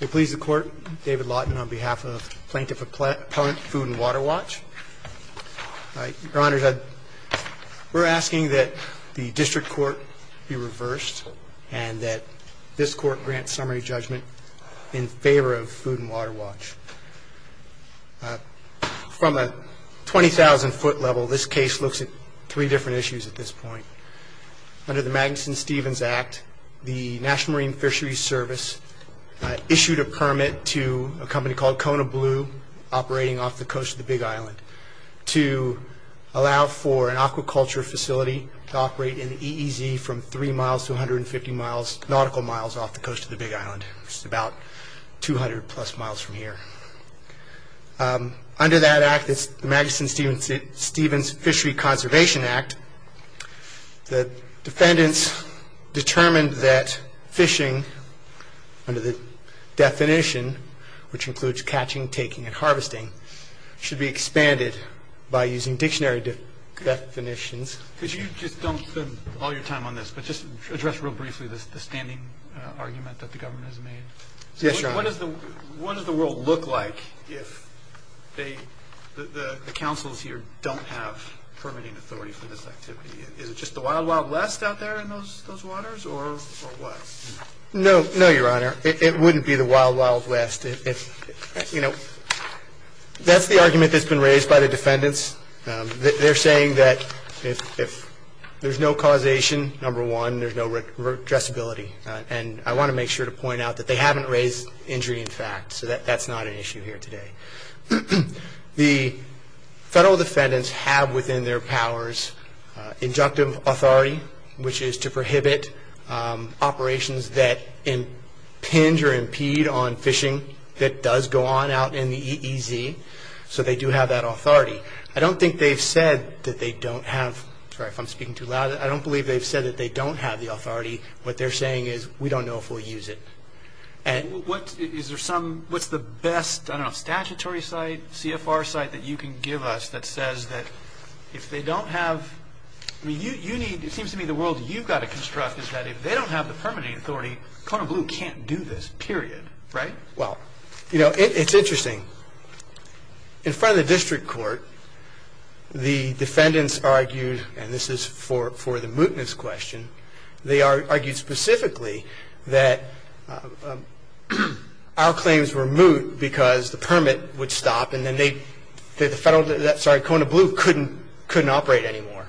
We please the court, David Lawton on behalf of Plaintiff Appellant Food and Water Watch. Your Honor, we're asking that the district court be reversed and that this court grant summary judgment in favor of Food and Water Watch. From a 20,000 foot level, this case looks at three different issues at this point. Under the Magnuson-Stevens Act, the National Marine Fisheries Service issued a permit to a company called Kona Blue operating off the coast of the Big Island to allow for an aquaculture facility to operate in the EEZ from three miles to 150 nautical miles off the coast of the Big Island, which is about 200 plus miles from here. Under that act, the Magnuson-Stevens Fishery Conservation Act, the defendants determined that fishing, under the definition, which includes catching, taking, and harvesting, should be expanded by using dictionary definitions. Could you just don't spend all your time on this, but just address real briefly the standing argument that the government has made? Yes, Your Honor. What does the world look like if the councils here don't have permitting authority for this activity? Is it just the wild, wild west out there in those waters, or what? No, Your Honor. It wouldn't be the wild, wild west. That's the argument that's been raised by the defendants. They're saying that if there's no causation, number one, there's no addressability. I want to make sure to point out that they haven't raised injury in fact, so that's not an issue here today. The federal defendants have within their powers injunctive authority, which is to prohibit operations that impinge or impede on fishing that does go on out in the EEZ. So they do have that authority. I don't think they've said that they don't have, sorry if I'm speaking too loud, but I don't believe they've said that they don't have the authority. What they're saying is we don't know if we'll use it. Is there some, what's the best statutory site, CFR site that you can give us that says that if they don't have, it seems to me the world you've got to construct is that if they don't have the permitting authority, Kona Blue can't do this, period, right? Well, it's interesting. In front of the district court, the defendants argued, and this is for the mootness question, they argued specifically that our claims were moot because the permit would stop and then they, sorry, Kona Blue couldn't operate anymore,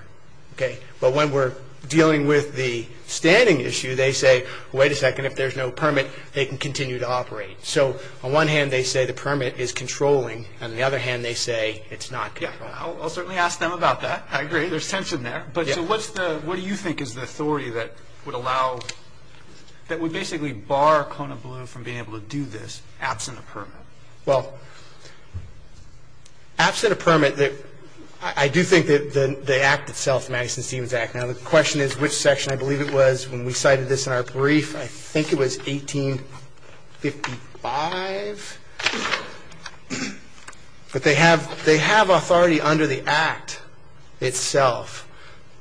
okay? But when we're dealing with the standing issue, they say, wait a second, if there's no permit, they can continue to operate. So on one hand, they say the permit is controlling, and on the other hand, they say it's not controlling. Yeah, I'll certainly ask them about that. I agree. There's tension there. But so what do you think is the authority that would allow, that would basically bar Kona Blue from being able to do this absent a permit? Well, absent a permit, I do think that the act itself, Madison-Stevens Act, now the question is which section, I believe it was when we cited this in our brief, I think it was 1855. But they have authority under the act itself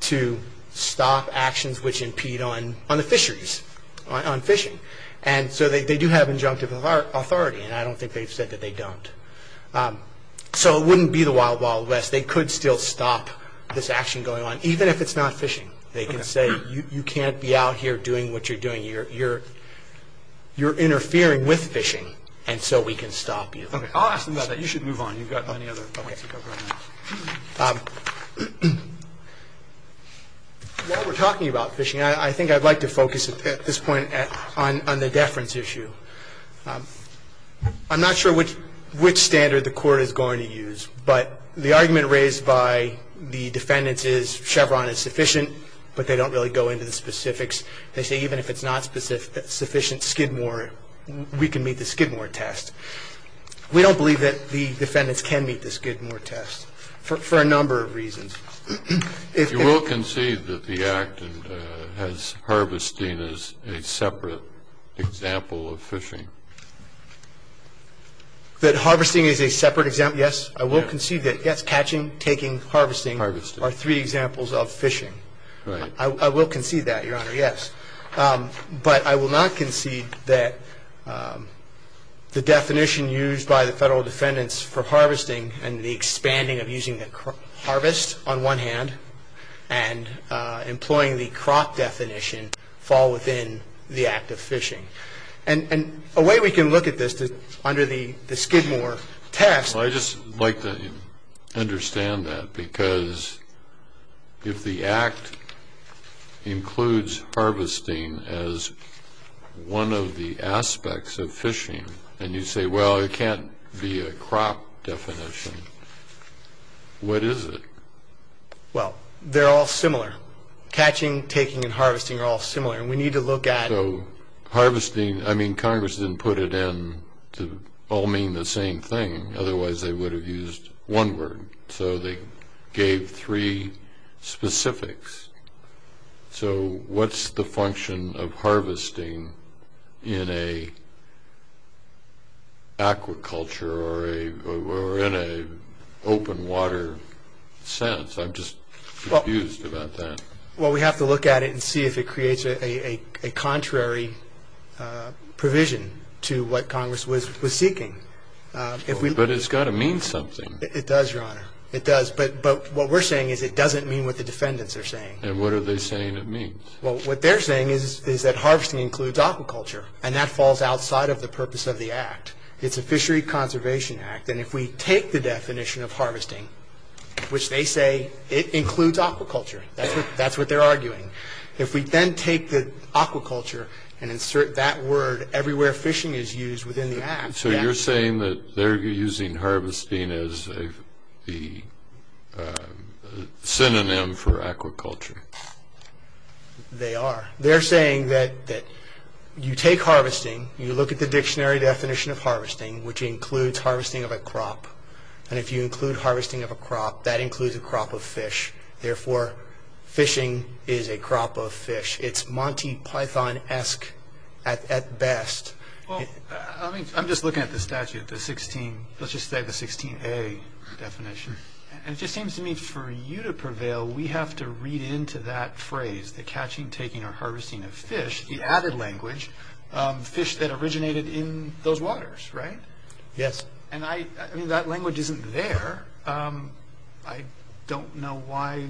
to stop actions which impede on the fisheries, on fishing. And so they do have injunctive authority, and I don't think they've said that they don't. So it wouldn't be the wild, wild west. They could still stop this action going on, even if it's not fishing. They can say you can't be out here doing what you're doing. You're interfering with fishing, and so we can stop you. Okay, I'll ask them about that. You should move on. You've got many other points to cover on that. While we're talking about fishing, I think I'd like to focus at this point on the deference issue. I'm not sure which standard the Court is going to use, but the argument raised by the defendants is Chevron is sufficient, but they don't really go into the specifics. They say even if it's not sufficient skidmore, we can meet the skidmore test. We don't believe that the defendants can meet the skidmore test for a number of reasons. You will concede that the act has harvesting as a separate example of fishing? That harvesting is a separate example, yes. I will concede that, yes, catching, taking, harvesting are three examples of fishing. Right. I will concede that, Your Honor, yes. But I will not concede that the definition used by the federal defendants for harvesting and the expanding of using the harvest on one hand and employing the crop definition fall within the act of fishing. And a way we can look at this under the skidmore test. Well, I'd just like to understand that, because if the act includes harvesting as one of the aspects of fishing, and you say, well, it can't be a crop definition, what is it? Well, they're all similar. Catching, taking, and harvesting are all similar, and we need to look at it. So harvesting, I mean, Congress didn't put it in to all mean the same thing. Otherwise, they would have used one word. So they gave three specifics. So what's the function of harvesting in an aquaculture or in an open water sense? I'm just confused about that. Well, we have to look at it and see if it creates a contrary provision to what Congress was seeking. But it's got to mean something. It does, Your Honor. It does. But what we're saying is it doesn't mean what the defendants are saying. And what are they saying it means? Well, what they're saying is that harvesting includes aquaculture, and that falls outside of the purpose of the act. It's a fishery conservation act, and if we take the definition of harvesting, which they say it includes aquaculture, that's what they're arguing. If we then take the aquaculture and insert that word everywhere fishing is used within the act. So you're saying that they're using harvesting as the synonym for aquaculture. They are. They're saying that you take harvesting, you look at the dictionary definition of harvesting, which includes harvesting of a crop. And if you include harvesting of a crop, that includes a crop of fish. Therefore, fishing is a crop of fish. It's Monty Python-esque at best. Well, I'm just looking at the statute, let's just say the 16A definition. And it just seems to me for you to prevail, we have to read into that phrase, the catching, taking, or harvesting of fish, the added language, fish that originated in those waters, right? Yes. And that language isn't there. I don't know why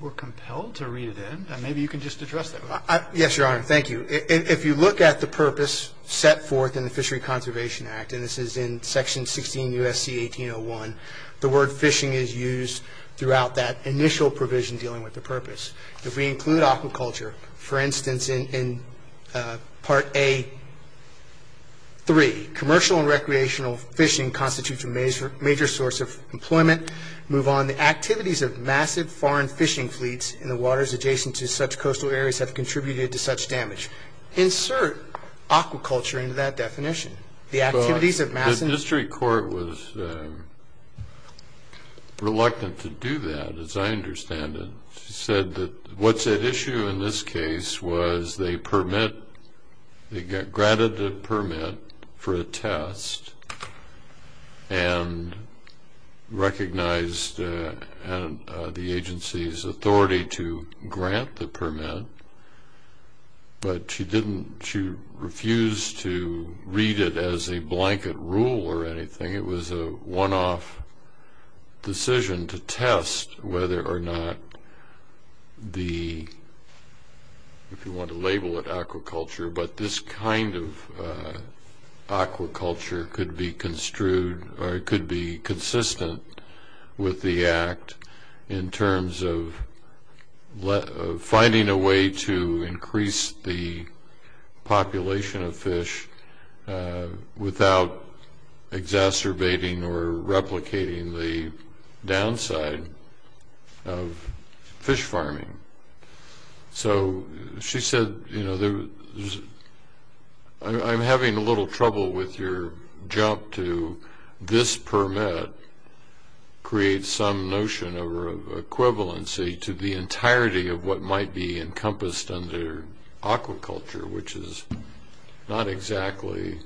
we're compelled to read it in. Maybe you can just address that. Yes, Your Honor. Thank you. If you look at the purpose set forth in the Fishery Conservation Act, and this is in Section 16 U.S.C. 1801, the word fishing is used throughout that initial provision dealing with the purpose. If we include aquaculture, for instance, in Part A.3, commercial and recreational fishing constitutes a major source of employment. Move on. The activities of massive foreign fishing fleets in the waters adjacent to such coastal areas have contributed to such damage. Insert aquaculture into that definition. The activities of massive- The District Court was reluctant to do that, as I understand it. It said that what's at issue in this case was they permitted, they granted the permit for a test and recognized the agency's authority to grant the permit, but she refused to read it as a blanket rule or anything. It was a one-off decision to test whether or not the, if you want to label it aquaculture, but this kind of aquaculture could be construed or it could be consistent with the Act in terms of finding a way to increase the population of fish without exacerbating or replicating the downside of fish farming. So she said, you know, I'm having a little trouble with your jump to this permit creates some notion of equivalency to the entirety of what might be encompassed under aquaculture, which is not exactly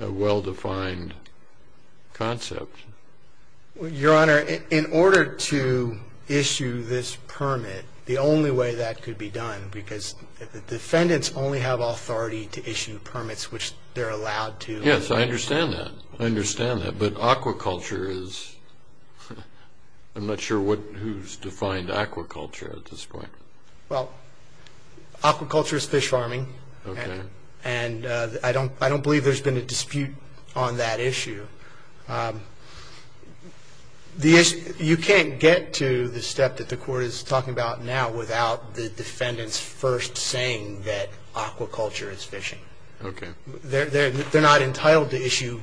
a well-defined concept. Your Honor, in order to issue this permit, the only way that could be done, because the defendants only have authority to issue permits, which they're allowed to. Yes, I understand that. I understand that, but aquaculture is, I'm not sure who's defined aquaculture at this point. Well, aquaculture is fish farming. Okay. And I don't believe there's been a dispute on that issue. You can't get to the step that the Court is talking about now without the defendants first saying that aquaculture is fishing. Okay. They're not entitled to issue.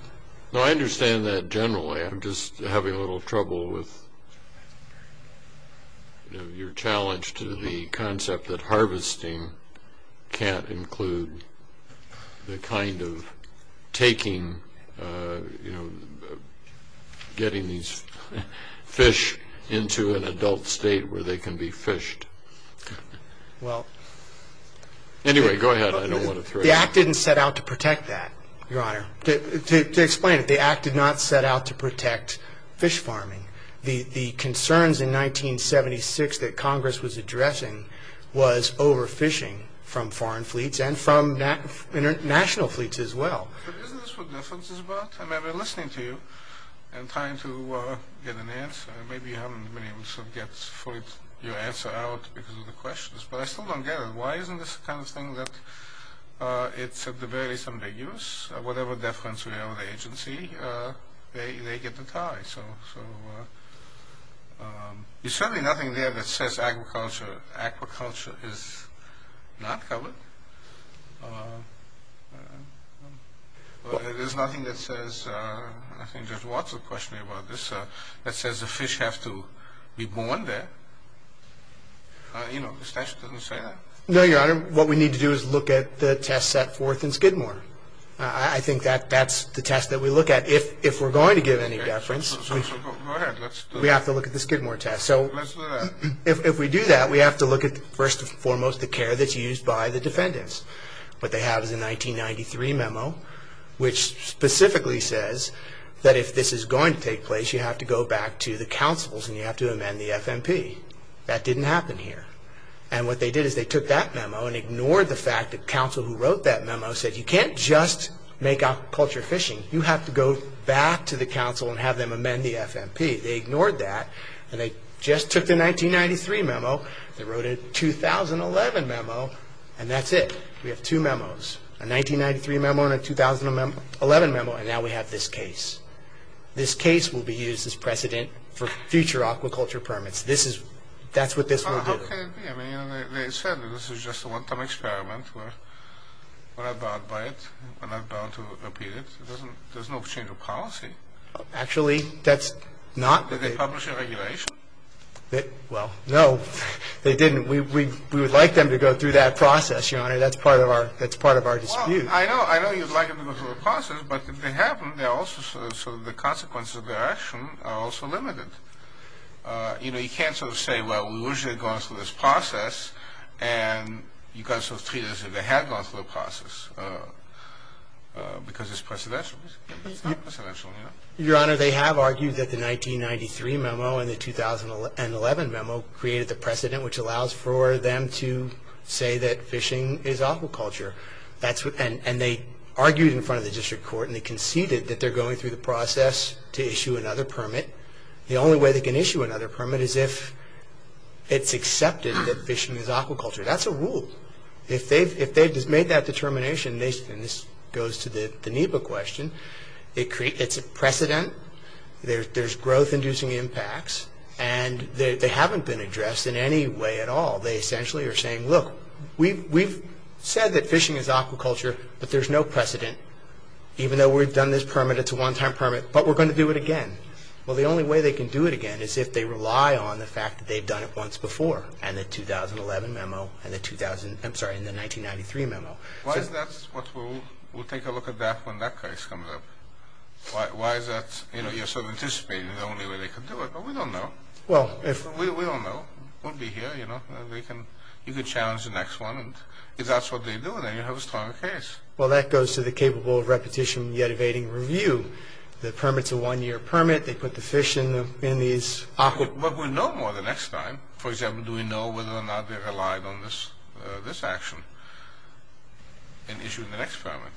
No, I understand that generally. I'm just having a little trouble with your challenge to the concept that harvesting can't include the kind of taking, getting these fish into an adult state where they can be fished. Anyway, go ahead. I don't want to throw you off. The Act didn't set out to protect that, Your Honor. To explain it, the Act did not set out to protect fish farming. The concerns in 1976 that Congress was addressing was overfishing from foreign fleets and from national fleets as well. But isn't this what deference is about? I mean, I've been listening to you and trying to get an answer. Maybe you haven't. Many of us have got your answer out because of the questions, but I still don't get it. Why isn't this the kind of thing that it's at the very least ambiguous? Whatever deference we have with the agency, they get the tie. So there's certainly nothing there that says agriculture is not covered. There's nothing that says, I think Judge Watson questioned me about this, that says the fish have to be born there. You know, the statute doesn't say that. No, Your Honor. What we need to do is look at the test set forth in Skidmore. I think that's the test that we look at. If we're going to give any deference, we have to look at the Skidmore test. So if we do that, we have to look at, first and foremost, the care that's used by the defendants. What they have is a 1993 memo which specifically says that if this is going to take place, you have to go back to the councils and you have to amend the FMP. That didn't happen here. And what they did is they took that memo and ignored the fact that counsel who wrote that memo said, You can't just make aquaculture fishing. You have to go back to the council and have them amend the FMP. They ignored that, and they just took the 1993 memo. They wrote a 2011 memo, and that's it. We have two memos, a 1993 memo and a 2011 memo, and now we have this case. This case will be used as precedent for future aquaculture permits. That's what this will do. How can it be? I mean, they said that this is just a one-time experiment. We're not bound by it. We're not bound to repeat it. There's no change of policy. Actually, that's not. Did they publish a regulation? Well, no, they didn't. We would like them to go through that process, Your Honor. That's part of our dispute. Well, I know you'd like them to go through the process, but if they haven't, the consequences of their action are also limited. You know, you can't sort of say, well, we wish they'd gone through this process, and you've got to sort of treat it as if they had gone through the process, because it's precedential. Your Honor, they have argued that the 1993 memo and the 2011 memo created the precedent which allows for them to say that fishing is aquaculture, and they argued in front of the district court, and they conceded that they're going through the process to issue another permit. The only way they can issue another permit is if it's accepted that fishing is aquaculture. That's a rule. If they've made that determination, and this goes to the NEPA question, it's a precedent. There's growth-inducing impacts, and they haven't been addressed in any way at all. They essentially are saying, look, we've said that fishing is aquaculture, but there's no precedent. Even though we've done this permit, it's a one-time permit, but we're going to do it again. Well, the only way they can do it again is if they rely on the fact that they've done it once before and the 2011 memo and the 1993 memo. Why is that? We'll take a look at that when that case comes up. Why is that? You know, you're sort of anticipating the only way they can do it, but we don't know. We don't know. We'll be here, you know. You can challenge the next one. And if that's what they do, then you have a stronger case. Well, that goes to the capable of repetition yet evading review. The permit's a one-year permit. They put the fish in these aqua. But we'll know more the next time. For example, do we know whether or not they relied on this action in issuing the next permit?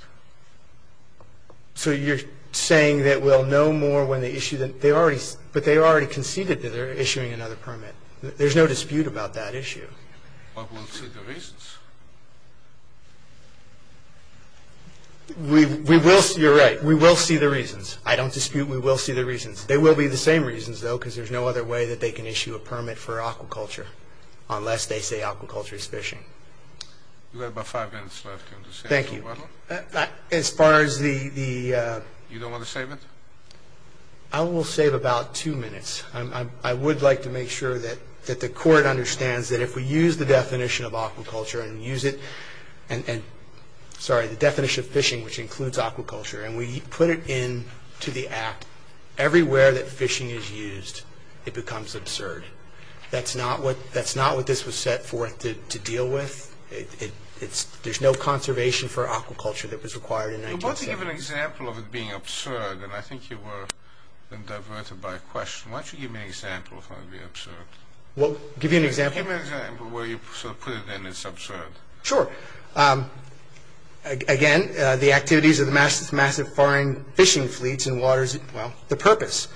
So you're saying that we'll know more when they issue the next permit, but they already conceded that they're issuing another permit. There's no dispute about that issue. But we'll see the reasons. You're right. We will see the reasons. I don't dispute. We will see the reasons. They will be the same reasons, though, because there's no other way that they can issue a permit for aquaculture unless they say aquaculture is fishing. You have about five minutes left. Thank you. As far as the— You don't want to save it? I will save about two minutes. I would like to make sure that the Court understands that if we use the definition of aquaculture and use it— sorry, the definition of fishing, which includes aquaculture, and we put it into the Act, everywhere that fishing is used it becomes absurd. That's not what this was set forth to deal with. There's no conservation for aquaculture that was required in 1907. You're about to give an example of it being absurd, and I think you were diverted by a question. Why don't you give me an example of it being absurd? Well, I'll give you an example. Give me an example where you sort of put it in as absurd. Sure. Again, the activities of the massive foreign fishing fleets in waters— well, the purpose.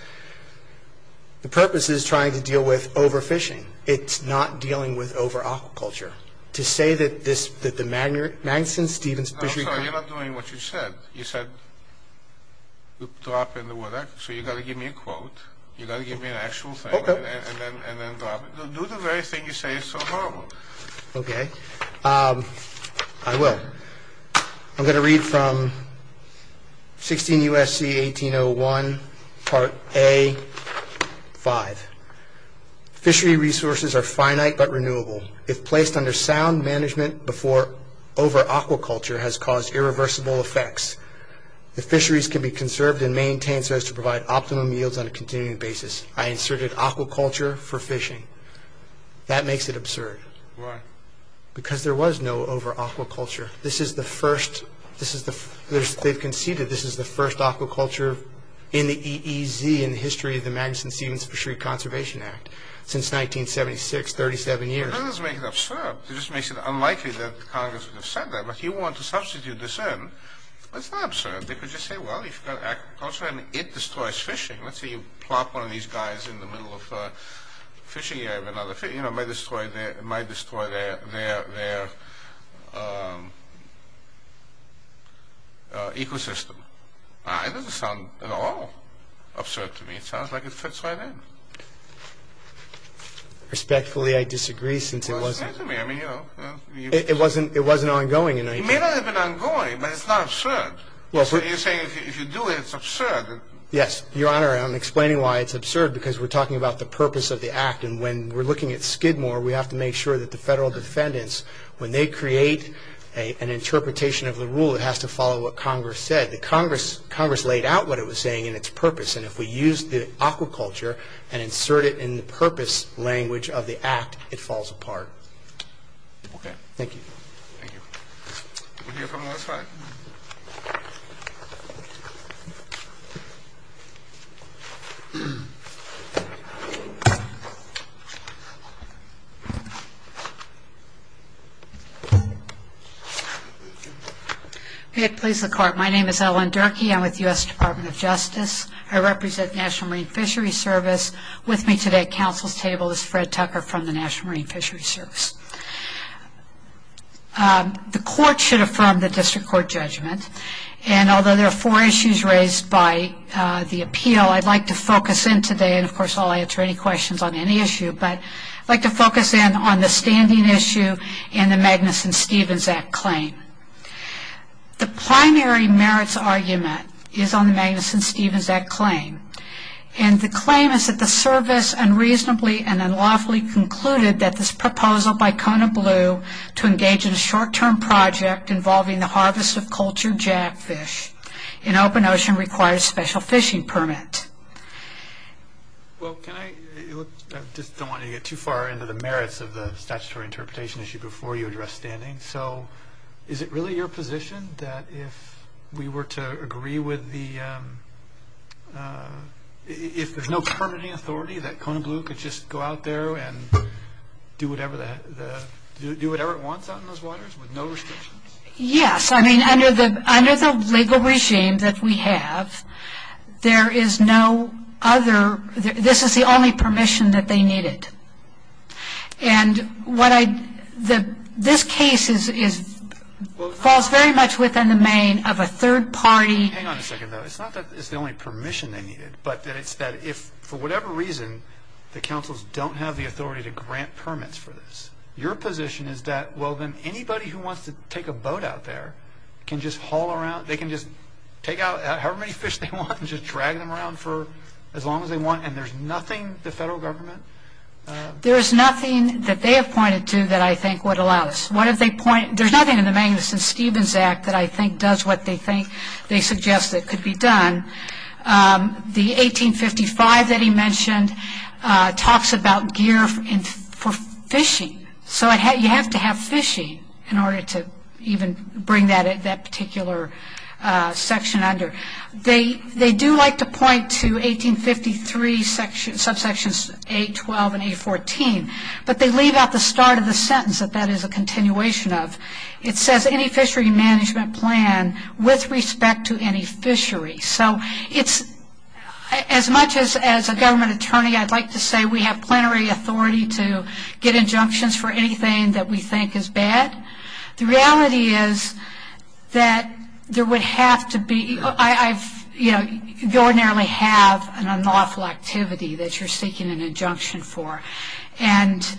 The purpose is trying to deal with overfishing. It's not dealing with overaquaculture. To say that the Magnuson–Stevens Fishing Company— I'm sorry, you're not doing what you said. You said drop in the water, so you've got to give me a quote. You've got to give me an actual thing and then drop it. Do the very thing you say is so horrible. Okay. I will. I'm going to read from 16 U.S.C. 1801, Part A, 5. Fishery resources are finite but renewable. If placed under sound management before overaquaculture has caused irreversible effects, the fisheries can be conserved and maintained so as to provide optimum yields on a continuing basis. I inserted aquaculture for fishing. That makes it absurd. Why? Because there was no overaquaculture. This is the first—they've conceded this is the first aquaculture in the EEZ, in the history of the Magnuson–Stevens Fishery Conservation Act, since 1976, 37 years. That doesn't make it absurd. It just makes it unlikely that Congress would have said that. But if you want to substitute this in, it's not absurd. They could just say, well, you've got aquaculture and it destroys fishing. Let's say you plop one of these guys in the middle of a fishing area, it might destroy their ecosystem. It doesn't sound at all absurd to me. It sounds like it fits right in. Respectfully, I disagree, since it wasn't— Well, it's absurd to me. I mean, you know. It wasn't ongoing in 19— It may not have been ongoing, but it's not absurd. You're saying if you do it, it's absurd. Yes, Your Honor, and I'm explaining why it's absurd, because we're talking about the purpose of the act, and when we're looking at Skidmore, we have to make sure that the federal defendants, when they create an interpretation of the rule, it has to follow what Congress said. The Congress laid out what it was saying in its purpose, and if we use the aquaculture and insert it in the purpose language of the act, it falls apart. Okay. Thank you. Thank you. We'll hear from the last five. Okay. Please look forward. My name is Ellen Durkee. I'm with the U.S. Department of Justice. I represent the National Marine Fisheries Service. With me today at counsel's table is Fred Tucker from the National Marine Fisheries Service. The court should affirm the district court judgment, and although there are four issues raised by the appeal, I'd like to focus in today, and of course I'll answer any questions on any issue, but I'd like to focus in on the standing issue and the Magnuson-Stevens Act claim. The primary merits argument is on the Magnuson-Stevens Act claim, and the claim is that the service unreasonably and unlawfully concluded that this proposal by Kona Blue to engage in a short-term project involving the harvest of cultured jackfish in open ocean required a special fishing permit. Well, can I, I just don't want to get too far into the merits of the statutory interpretation issue before you address standing, so is it really your position that if we were to agree with the, if there's no permitting authority that Kona Blue could just go out there and do whatever, do whatever it wants out in those waters with no restrictions? Yes, I mean under the legal regime that we have, there is no other, this is the only permission that they needed, and what I, this case is, falls very much within the main of a third party. Hang on a second though. It's not that it's the only permission they needed, but that it's that if for whatever reason the councils don't have the authority to grant permits for this, your position is that well then anybody who wants to take a boat out there can just haul around, they can just take out however many fish they want and just drag them around for as long as they want and there's nothing the federal government? There is nothing that they have pointed to that I think would allow this. There's nothing in the Magnuson-Stevens Act that I think does what they think, they suggest that could be done. The 1855 that he mentioned talks about gear for fishing, so you have to have fishing in order to even bring that particular section under. They do like to point to 1853 subsections 812 and 814, but they leave out the start of the sentence that that is a continuation of. It says any fishery management plan with respect to any fishery, so it's as much as a government attorney I'd like to say we have plenary authority to get injunctions for anything that we think is bad. The reality is that there would have to be, you ordinarily have an unlawful activity that you're seeking an injunction for and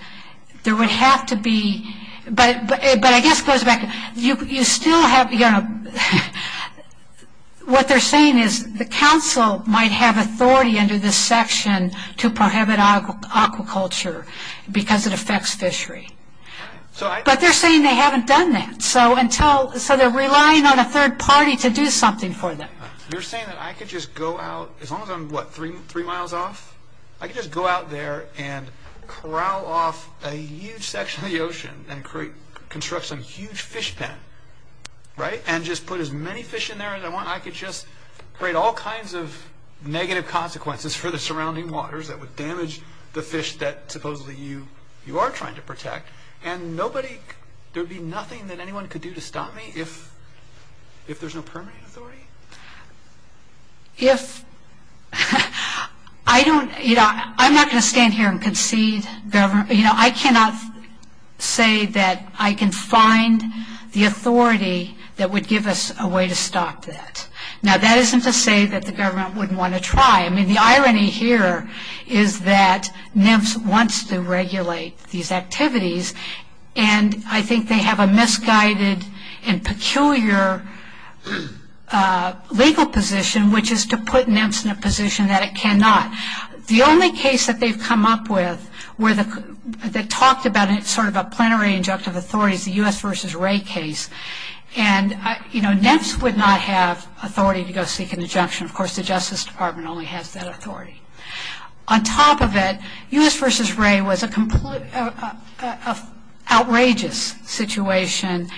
there would have to be, but I guess it goes back, you still have, what they're saying is the council might have authority under this section to prohibit aquaculture because it affects fishery, but they're saying they haven't done that, so they're relying on a third party to do something for them. You're saying that I could just go out, as long as I'm three miles off, I could just go out there and corral off a huge section of the ocean and construct some huge fish pen, right, and just put as many fish in there as I want. I could just create all kinds of negative consequences for the surrounding waters that would damage the fish that supposedly you are trying to protect and nobody, there would be nothing that anyone could do to stop me if there's no permitting authority? If, I don't, I'm not going to stand here and concede, I cannot say that I can find the authority that would give us a way to stop that. Now that isn't to say that the government wouldn't want to try. I mean, the irony here is that NEMS wants to regulate these activities and I think they have a misguided and peculiar legal position, which is to put NEMS in a position that it cannot. The only case that they've come up with that talked about it, sort of a plenary injunctive authority, is the U.S. v. Wray case. And, you know, NEMS would not have authority to go seek an injunction. Of course, the Justice Department only has that authority. On top of it, U.S. v. Wray was an outrageous situation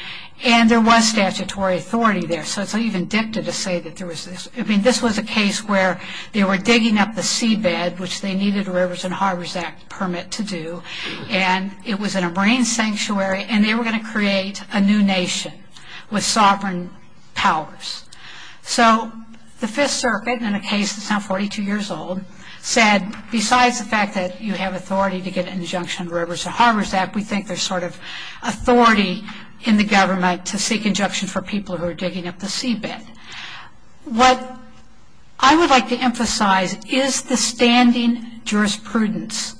and there was statutory authority there. So it's not even dicta to say that there was this. I mean, this was a case where they were digging up the seabed, which they needed a Rivers and Harbors Act permit to do, and it was in a marine sanctuary and they were going to create a new nation with sovereign powers. So the Fifth Circuit, in a case that's now 42 years old, said besides the fact that you have authority to get an injunction on the Rivers and Harbors Act, we think there's sort of authority in the government to seek injunction for people who are digging up the seabed. What I would like to emphasize is the standing jurisprudence.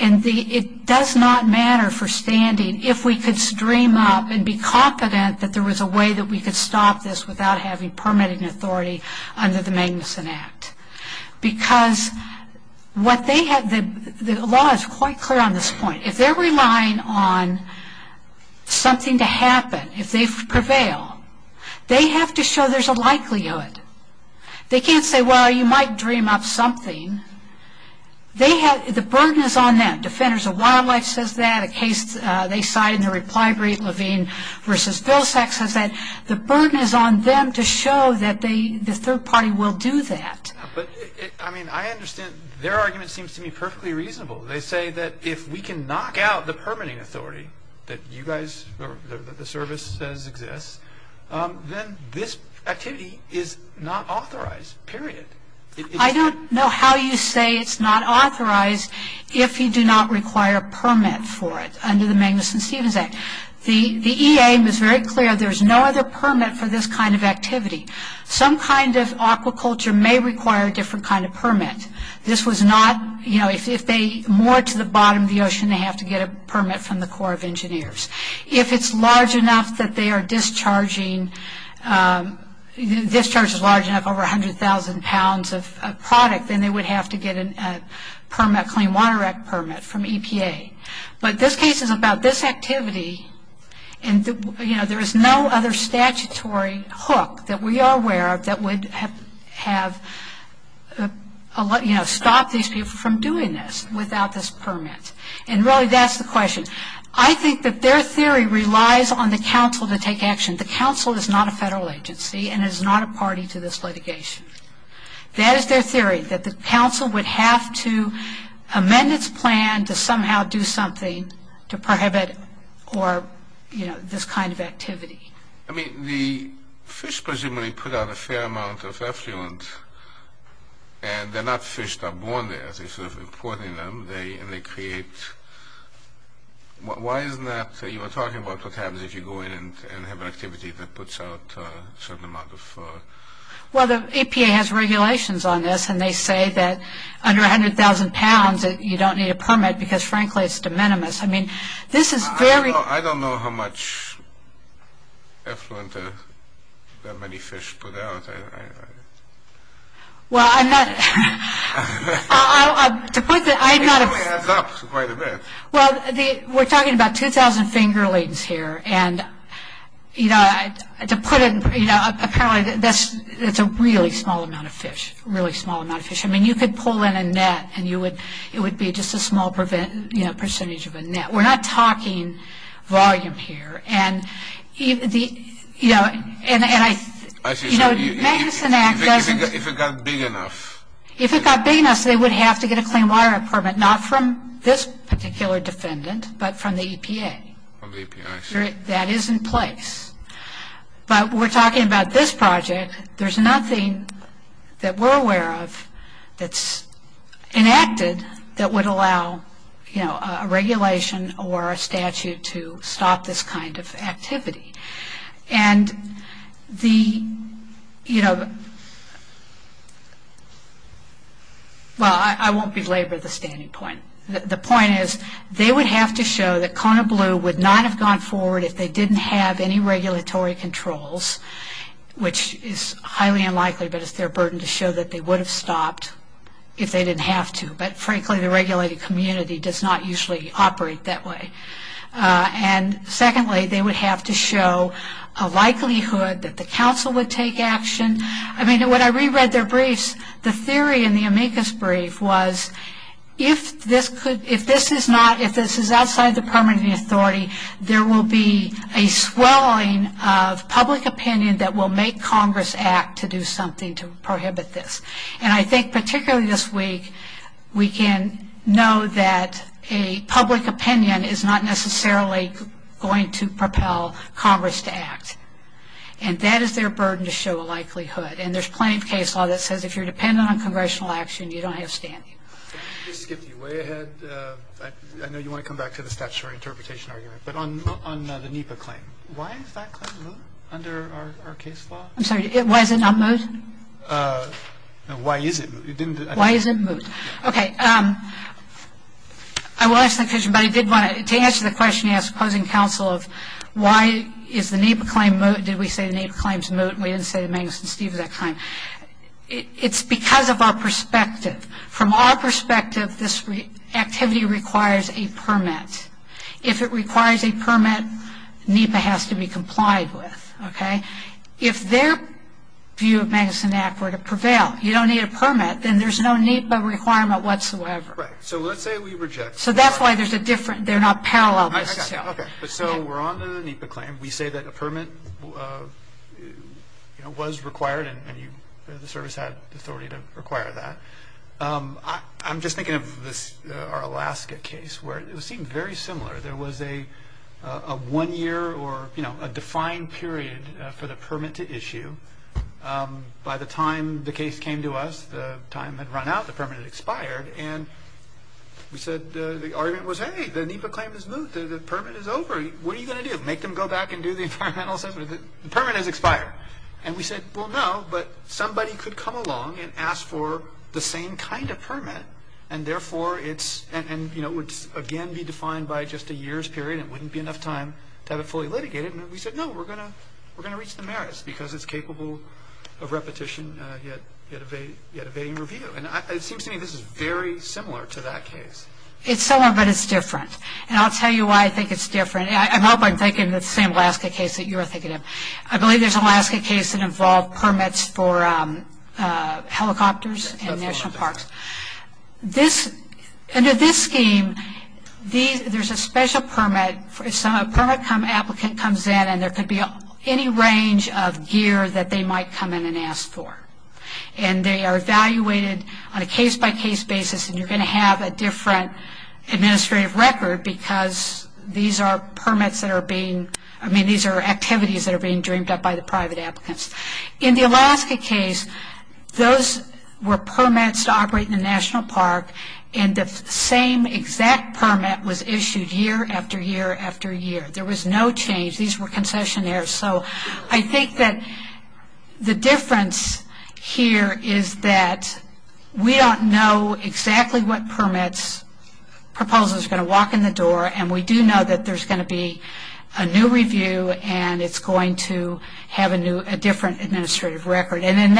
And it does not matter for standing if we could stream up and be confident that there was a way that we could stop this without having permitting authority under the Magnuson Act. Because the law is quite clear on this point. If they're relying on something to happen, if they prevail, they have to show there's a likelihood. They can't say, well, you might dream up something. The burden is on them. Defenders of Wildlife says that. A case they cited in the reply brief, Levine v. Vilsack, says that. The burden is on them to show that the third party will do that. But, I mean, I understand their argument seems to me perfectly reasonable. They say that if we can knock out the permitting authority that you guys, that the service says exists, then this activity is not authorized, period. I don't know how you say it's not authorized if you do not require a permit for it under the Magnuson-Stevens Act. The EA was very clear there's no other permit for this kind of activity. Some kind of aquaculture may require a different kind of permit. This was not, you know, if they moored to the bottom of the ocean, they have to get a permit from the Corps of Engineers. If it's large enough that they are discharging, discharge is large enough over 100,000 pounds of product, then they would have to get a permit, a Clean Water Act permit from EPA. But this case is about this activity, and, you know, there is no other statutory hook that we are aware of that would have, you know, stopped these people from doing this without this permit. And, really, that's the question. I think that their theory relies on the council to take action. The council is not a federal agency and is not a party to this litigation. That is their theory, that the council would have to amend its plan to somehow do something to prohibit or, you know, this kind of activity. I mean, the fish presumably put out a fair amount of effluent, and they're not fish that are born there. Instead of importing them, they create – why isn't that – you were talking about what happens if you go in and have an activity that puts out a certain amount of – Well, the EPA has regulations on this, and they say that under 100,000 pounds you don't need a permit because, frankly, it's de minimis. I mean, this is very – I don't know how much effluent that many fish put out. Well, I'm not – To put the – It adds up quite a bit. Well, we're talking about 2,000 fingerlings here, and, you know, to put it – you know, apparently that's a really small amount of fish, really small amount of fish. I mean, you could pull in a net, and you would – it would be just a small, you know, percentage of a net. We're not talking volume here. And, you know, and I – I see. You know, the Magnuson Act doesn't – If it got big enough. If it got big enough, they would have to get a clean water permit, not from this particular defendant, but from the EPA. From the EPA, I see. That is in place. But we're talking about this project. There's nothing that we're aware of that's enacted that would allow, you know, a regulation or a statute to stop this kind of activity. And the, you know – Well, I won't belabor the standing point. The point is they would have to show that Kona Blue would not have gone forward if they didn't have any regulatory controls, which is highly unlikely, but it's their burden to show that they would have stopped if they didn't have to. But, frankly, the regulated community does not usually operate that way. And, secondly, they would have to show a likelihood that the council would take action. I mean, when I reread their briefs, the theory in the amicus brief was if this could – a swelling of public opinion that will make Congress act to do something to prohibit this. And I think, particularly this week, we can know that a public opinion is not necessarily going to propel Congress to act. And that is their burden to show a likelihood. And there's plenty of case law that says if you're dependent on congressional action, you don't have standing. I skipped you way ahead. I know you want to come back to the statutory interpretation argument. But on the NEPA claim, why is that claim moot under our case law? I'm sorry, why is it not moot? Why is it moot? Why is it moot? Okay. I will answer the question, but I did want to – to answer the question you asked, posing counsel, of why is the NEPA claim moot? Did we say the NEPA claim is moot? We didn't say the Magnuson-Stevens Act claim. It's because of our perspective. From our perspective, this activity requires a permit. If it requires a permit, NEPA has to be complied with. Okay? If their view of Magnuson Act were to prevail, you don't need a permit, then there's no NEPA requirement whatsoever. So let's say we reject the NEPA. So that's why there's a difference. They're not parallel. I got you. Okay. So we're on the NEPA claim. We say that a permit was required and the service had authority to require that. I'm just thinking of our Alaska case where it seemed very similar. There was a one-year or, you know, a defined period for the permit to issue. By the time the case came to us, the time had run out. The permit had expired. And we said the argument was, hey, the NEPA claim is moot. The permit is over. What are you going to do? Make them go back and do the environmental assessment? The permit has expired. And we said, well, no, but somebody could come along and ask for the same kind of permit and, therefore, it's – and, you know, it would, again, be defined by just a year's period and it wouldn't be enough time to have it fully litigated. And we said, no, we're going to reach the merits because it's capable of repetition yet evading review. And it seems to me this is very similar to that case. It's similar, but it's different. And I'll tell you why I think it's different. I hope I'm thinking the same Alaska case that you're thinking of. I believe there's an Alaska case that involved permits for helicopters and national parks. Under this scheme, there's a special permit. A permit applicant comes in and there could be any range of gear that they might come in and ask for. And they are evaluated on a case-by-case basis. And you're going to have a different administrative record because these are permits that are being – I mean, these are activities that are being dreamed up by the private applicants. In the Alaska case, those were permits to operate in a national park and the same exact permit was issued year after year after year. There was no change. These were concessionaires. So I think that the difference here is that we don't know exactly what permits – it's a new review and it's going to have a different administrative record. And in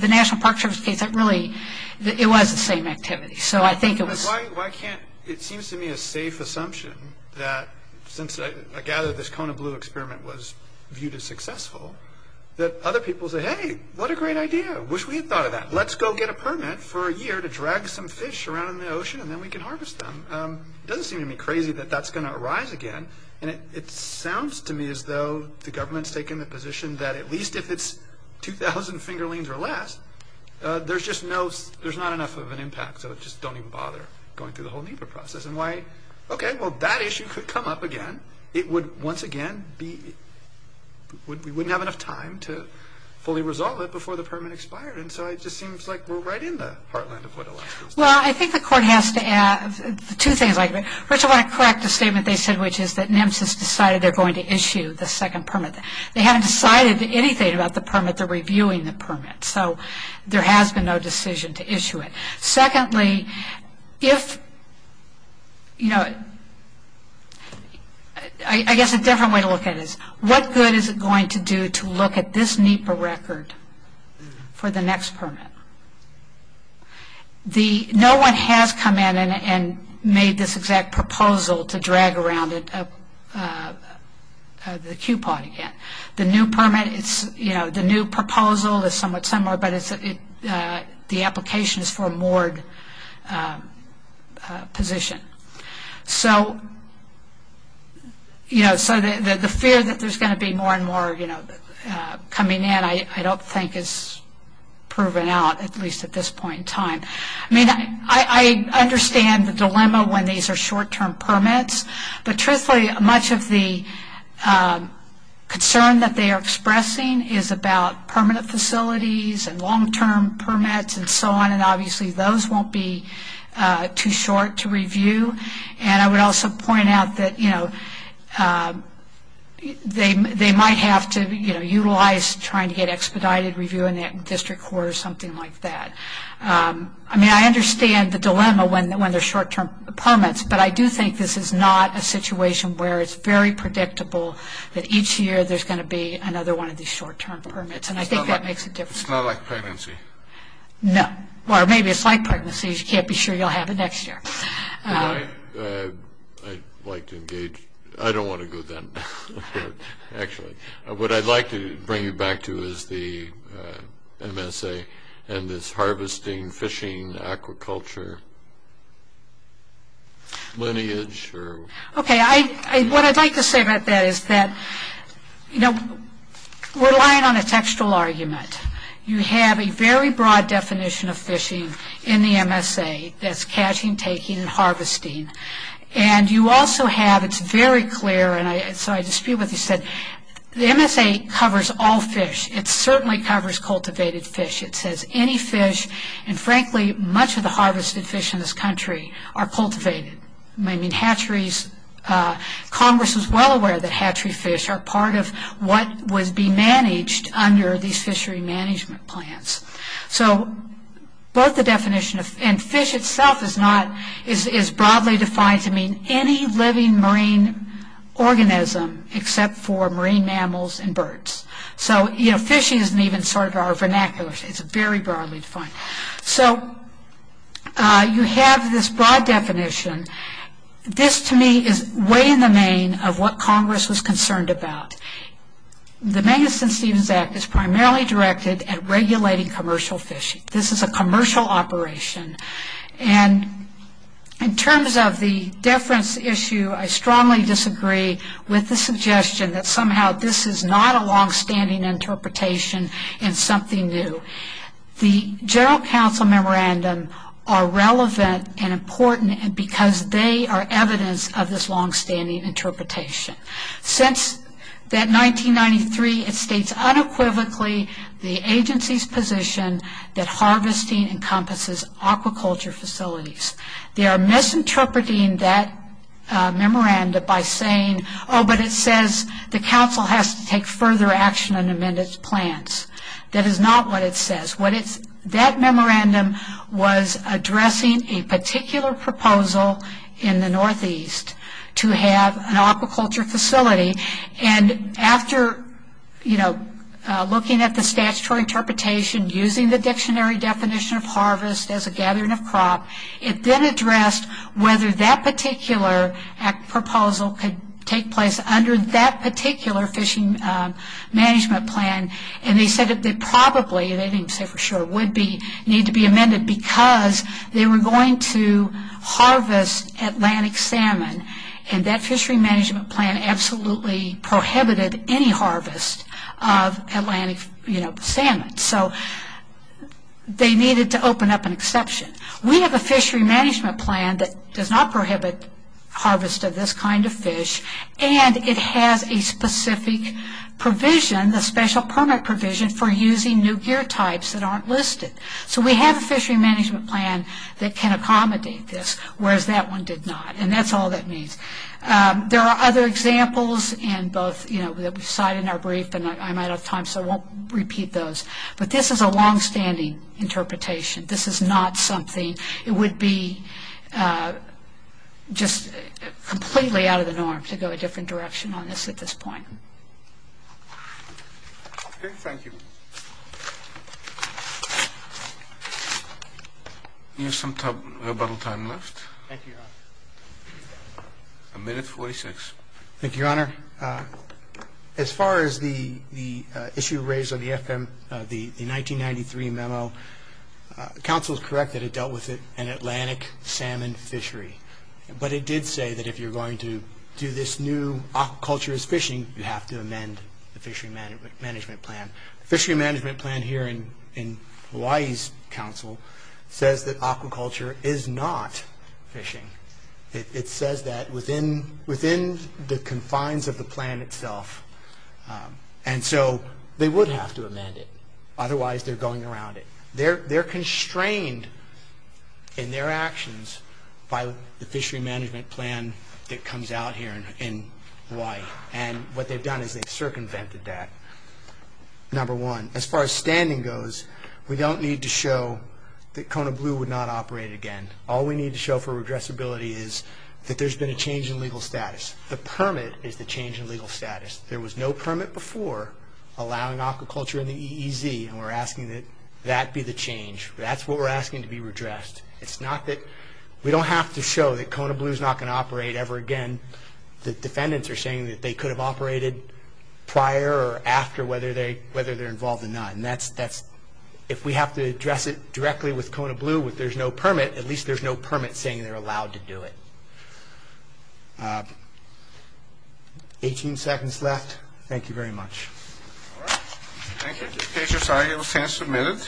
the national park service case, it really – it was the same activity. So I think it was – But why can't – it seems to me a safe assumption that – since I gather this Kona Blue experiment was viewed as successful – that other people say, hey, what a great idea. Wish we had thought of that. Let's go get a permit for a year to drag some fish around in the ocean and then we can harvest them. It doesn't seem to me crazy that that's going to arise again. And it sounds to me as though the government's taken the position that at least if it's 2,000 fingerlings or less, there's just no – there's not enough of an impact. So just don't even bother going through the whole NEPA process. And why – okay, well, that issue could come up again. It would once again be – we wouldn't have enough time to fully resolve it before the permit expired. And so it just seems like we're right in the heartland of what Alaska is doing. Well, I think the court has to add two things. First, I want to correct the statement they said, which is that NEMCS has decided they're going to issue the second permit. They haven't decided anything about the permit. They're reviewing the permit. So there has been no decision to issue it. Secondly, if – you know, I guess a different way to look at it is, what good is it going to do to look at this NEPA record for the next permit? The – no one has come in and made this exact proposal to drag around the QPOD again. The new permit is – you know, the new proposal is somewhat similar, but the application is for a moored position. So, you know, so the fear that there's going to be more and more, you know, coming in, I don't think is proven out, at least at this point in time. I mean, I understand the dilemma when these are short-term permits, but truthfully much of the concern that they are expressing is about permanent facilities and long-term permits and so on, and obviously those won't be too short to review. And I would also point out that, you know, they might have to, you know, utilize trying to get expedited review in that district court or something like that. I mean, I understand the dilemma when they're short-term permits, but I do think this is not a situation where it's very predictable that each year there's going to be another one of these short-term permits, and I think that makes a difference. It's not like pregnancy. No. Or maybe it's like pregnancy, you can't be sure you'll have it next year. I'd like to engage. I don't want to go then, actually. What I'd like to bring you back to is the MSA and this harvesting, fishing, aquaculture lineage. Okay. What I'd like to say about that is that, you know, we're relying on a textual argument. You have a very broad definition of fishing in the MSA. That's catching, taking, and harvesting. And you also have, it's very clear, and so I dispute what you said, the MSA covers all fish. It certainly covers cultivated fish. It says any fish, and frankly, much of the harvested fish in this country are cultivated. I mean, hatcheries, Congress is well aware that hatchery fish are part of what would be managed under these fishery management plans. So both the definition of, and fish itself is not, is broadly defined to mean any living marine organism except for marine mammals and birds. So, you know, fishing isn't even sort of our vernacular. It's very broadly defined. So you have this broad definition. This, to me, is way in the main of what Congress was concerned about. The Magnuson-Stevens Act is primarily directed at regulating commercial fishing. This is a commercial operation. And in terms of the deference issue, I strongly disagree with the suggestion that somehow this is not a longstanding interpretation in something new. The general counsel memorandum are relevant and important because they are evidence of this longstanding interpretation. Since that 1993, it states unequivocally the agency's position that harvesting encompasses aquaculture facilities. They are misinterpreting that memorandum by saying, oh, but it says the council has to take further action on amended plans. That is not what it says. That memorandum was addressing a particular proposal in the Northeast to have an aquaculture facility. And after, you know, looking at the statutory interpretation, using the dictionary definition of harvest as a gathering of crop, it then addressed whether that particular proposal could take place under that particular fishing management plan. And they said it probably, they didn't say for sure, would need to be amended because they were going to harvest Atlantic salmon and that fishery management plan absolutely prohibited any harvest of Atlantic salmon. So they needed to open up an exception. We have a fishery management plan that does not prohibit harvest of this kind of fish and it has a specific provision, a special permit provision, for using new gear types that aren't listed. So we have a fishery management plan that can accommodate this, whereas that one did not. And that's all that means. There are other examples in both, you know, that we cite in our brief, and I'm out of time so I won't repeat those. But this is a longstanding interpretation. This is not something, it would be just completely out of the norm to go a different direction on this at this point. Okay, thank you. You have some rebuttal time left. Thank you, Your Honor. A minute, 46. Thank you, Your Honor. As far as the issue raised on the FM, the 1993 memo, counsel is correct that it dealt with an Atlantic salmon fishery. But it did say that if you're going to do this new aquaculture as fishing, you have to amend the fishery management plan. The fishery management plan here in Hawaii's counsel says that aquaculture is not fishing. It says that within the confines of the plan itself. And so they would have to amend it. Otherwise, they're going around it. They're constrained in their actions by the fishery management plan that comes out here in Hawaii. And what they've done is they've circumvented that. Number one, as far as standing goes, we don't need to show that Kona Blue would not operate again. All we need to show for regressibility is that there's been a change in legal status. The permit is the change in legal status. There was no permit before allowing aquaculture in the EEZ, and we're asking that that be the change. That's what we're asking to be redressed. It's not that we don't have to show that Kona Blue is not going to operate ever again. The defendants are saying that they could have operated prior or after, whether they're involved or not. And if we have to address it directly with Kona Blue, if there's no permit, at least there's no permit saying they're allowed to do it. Eighteen seconds left. Thank you very much. All right. Thank you. This case is signed and will stand submitted.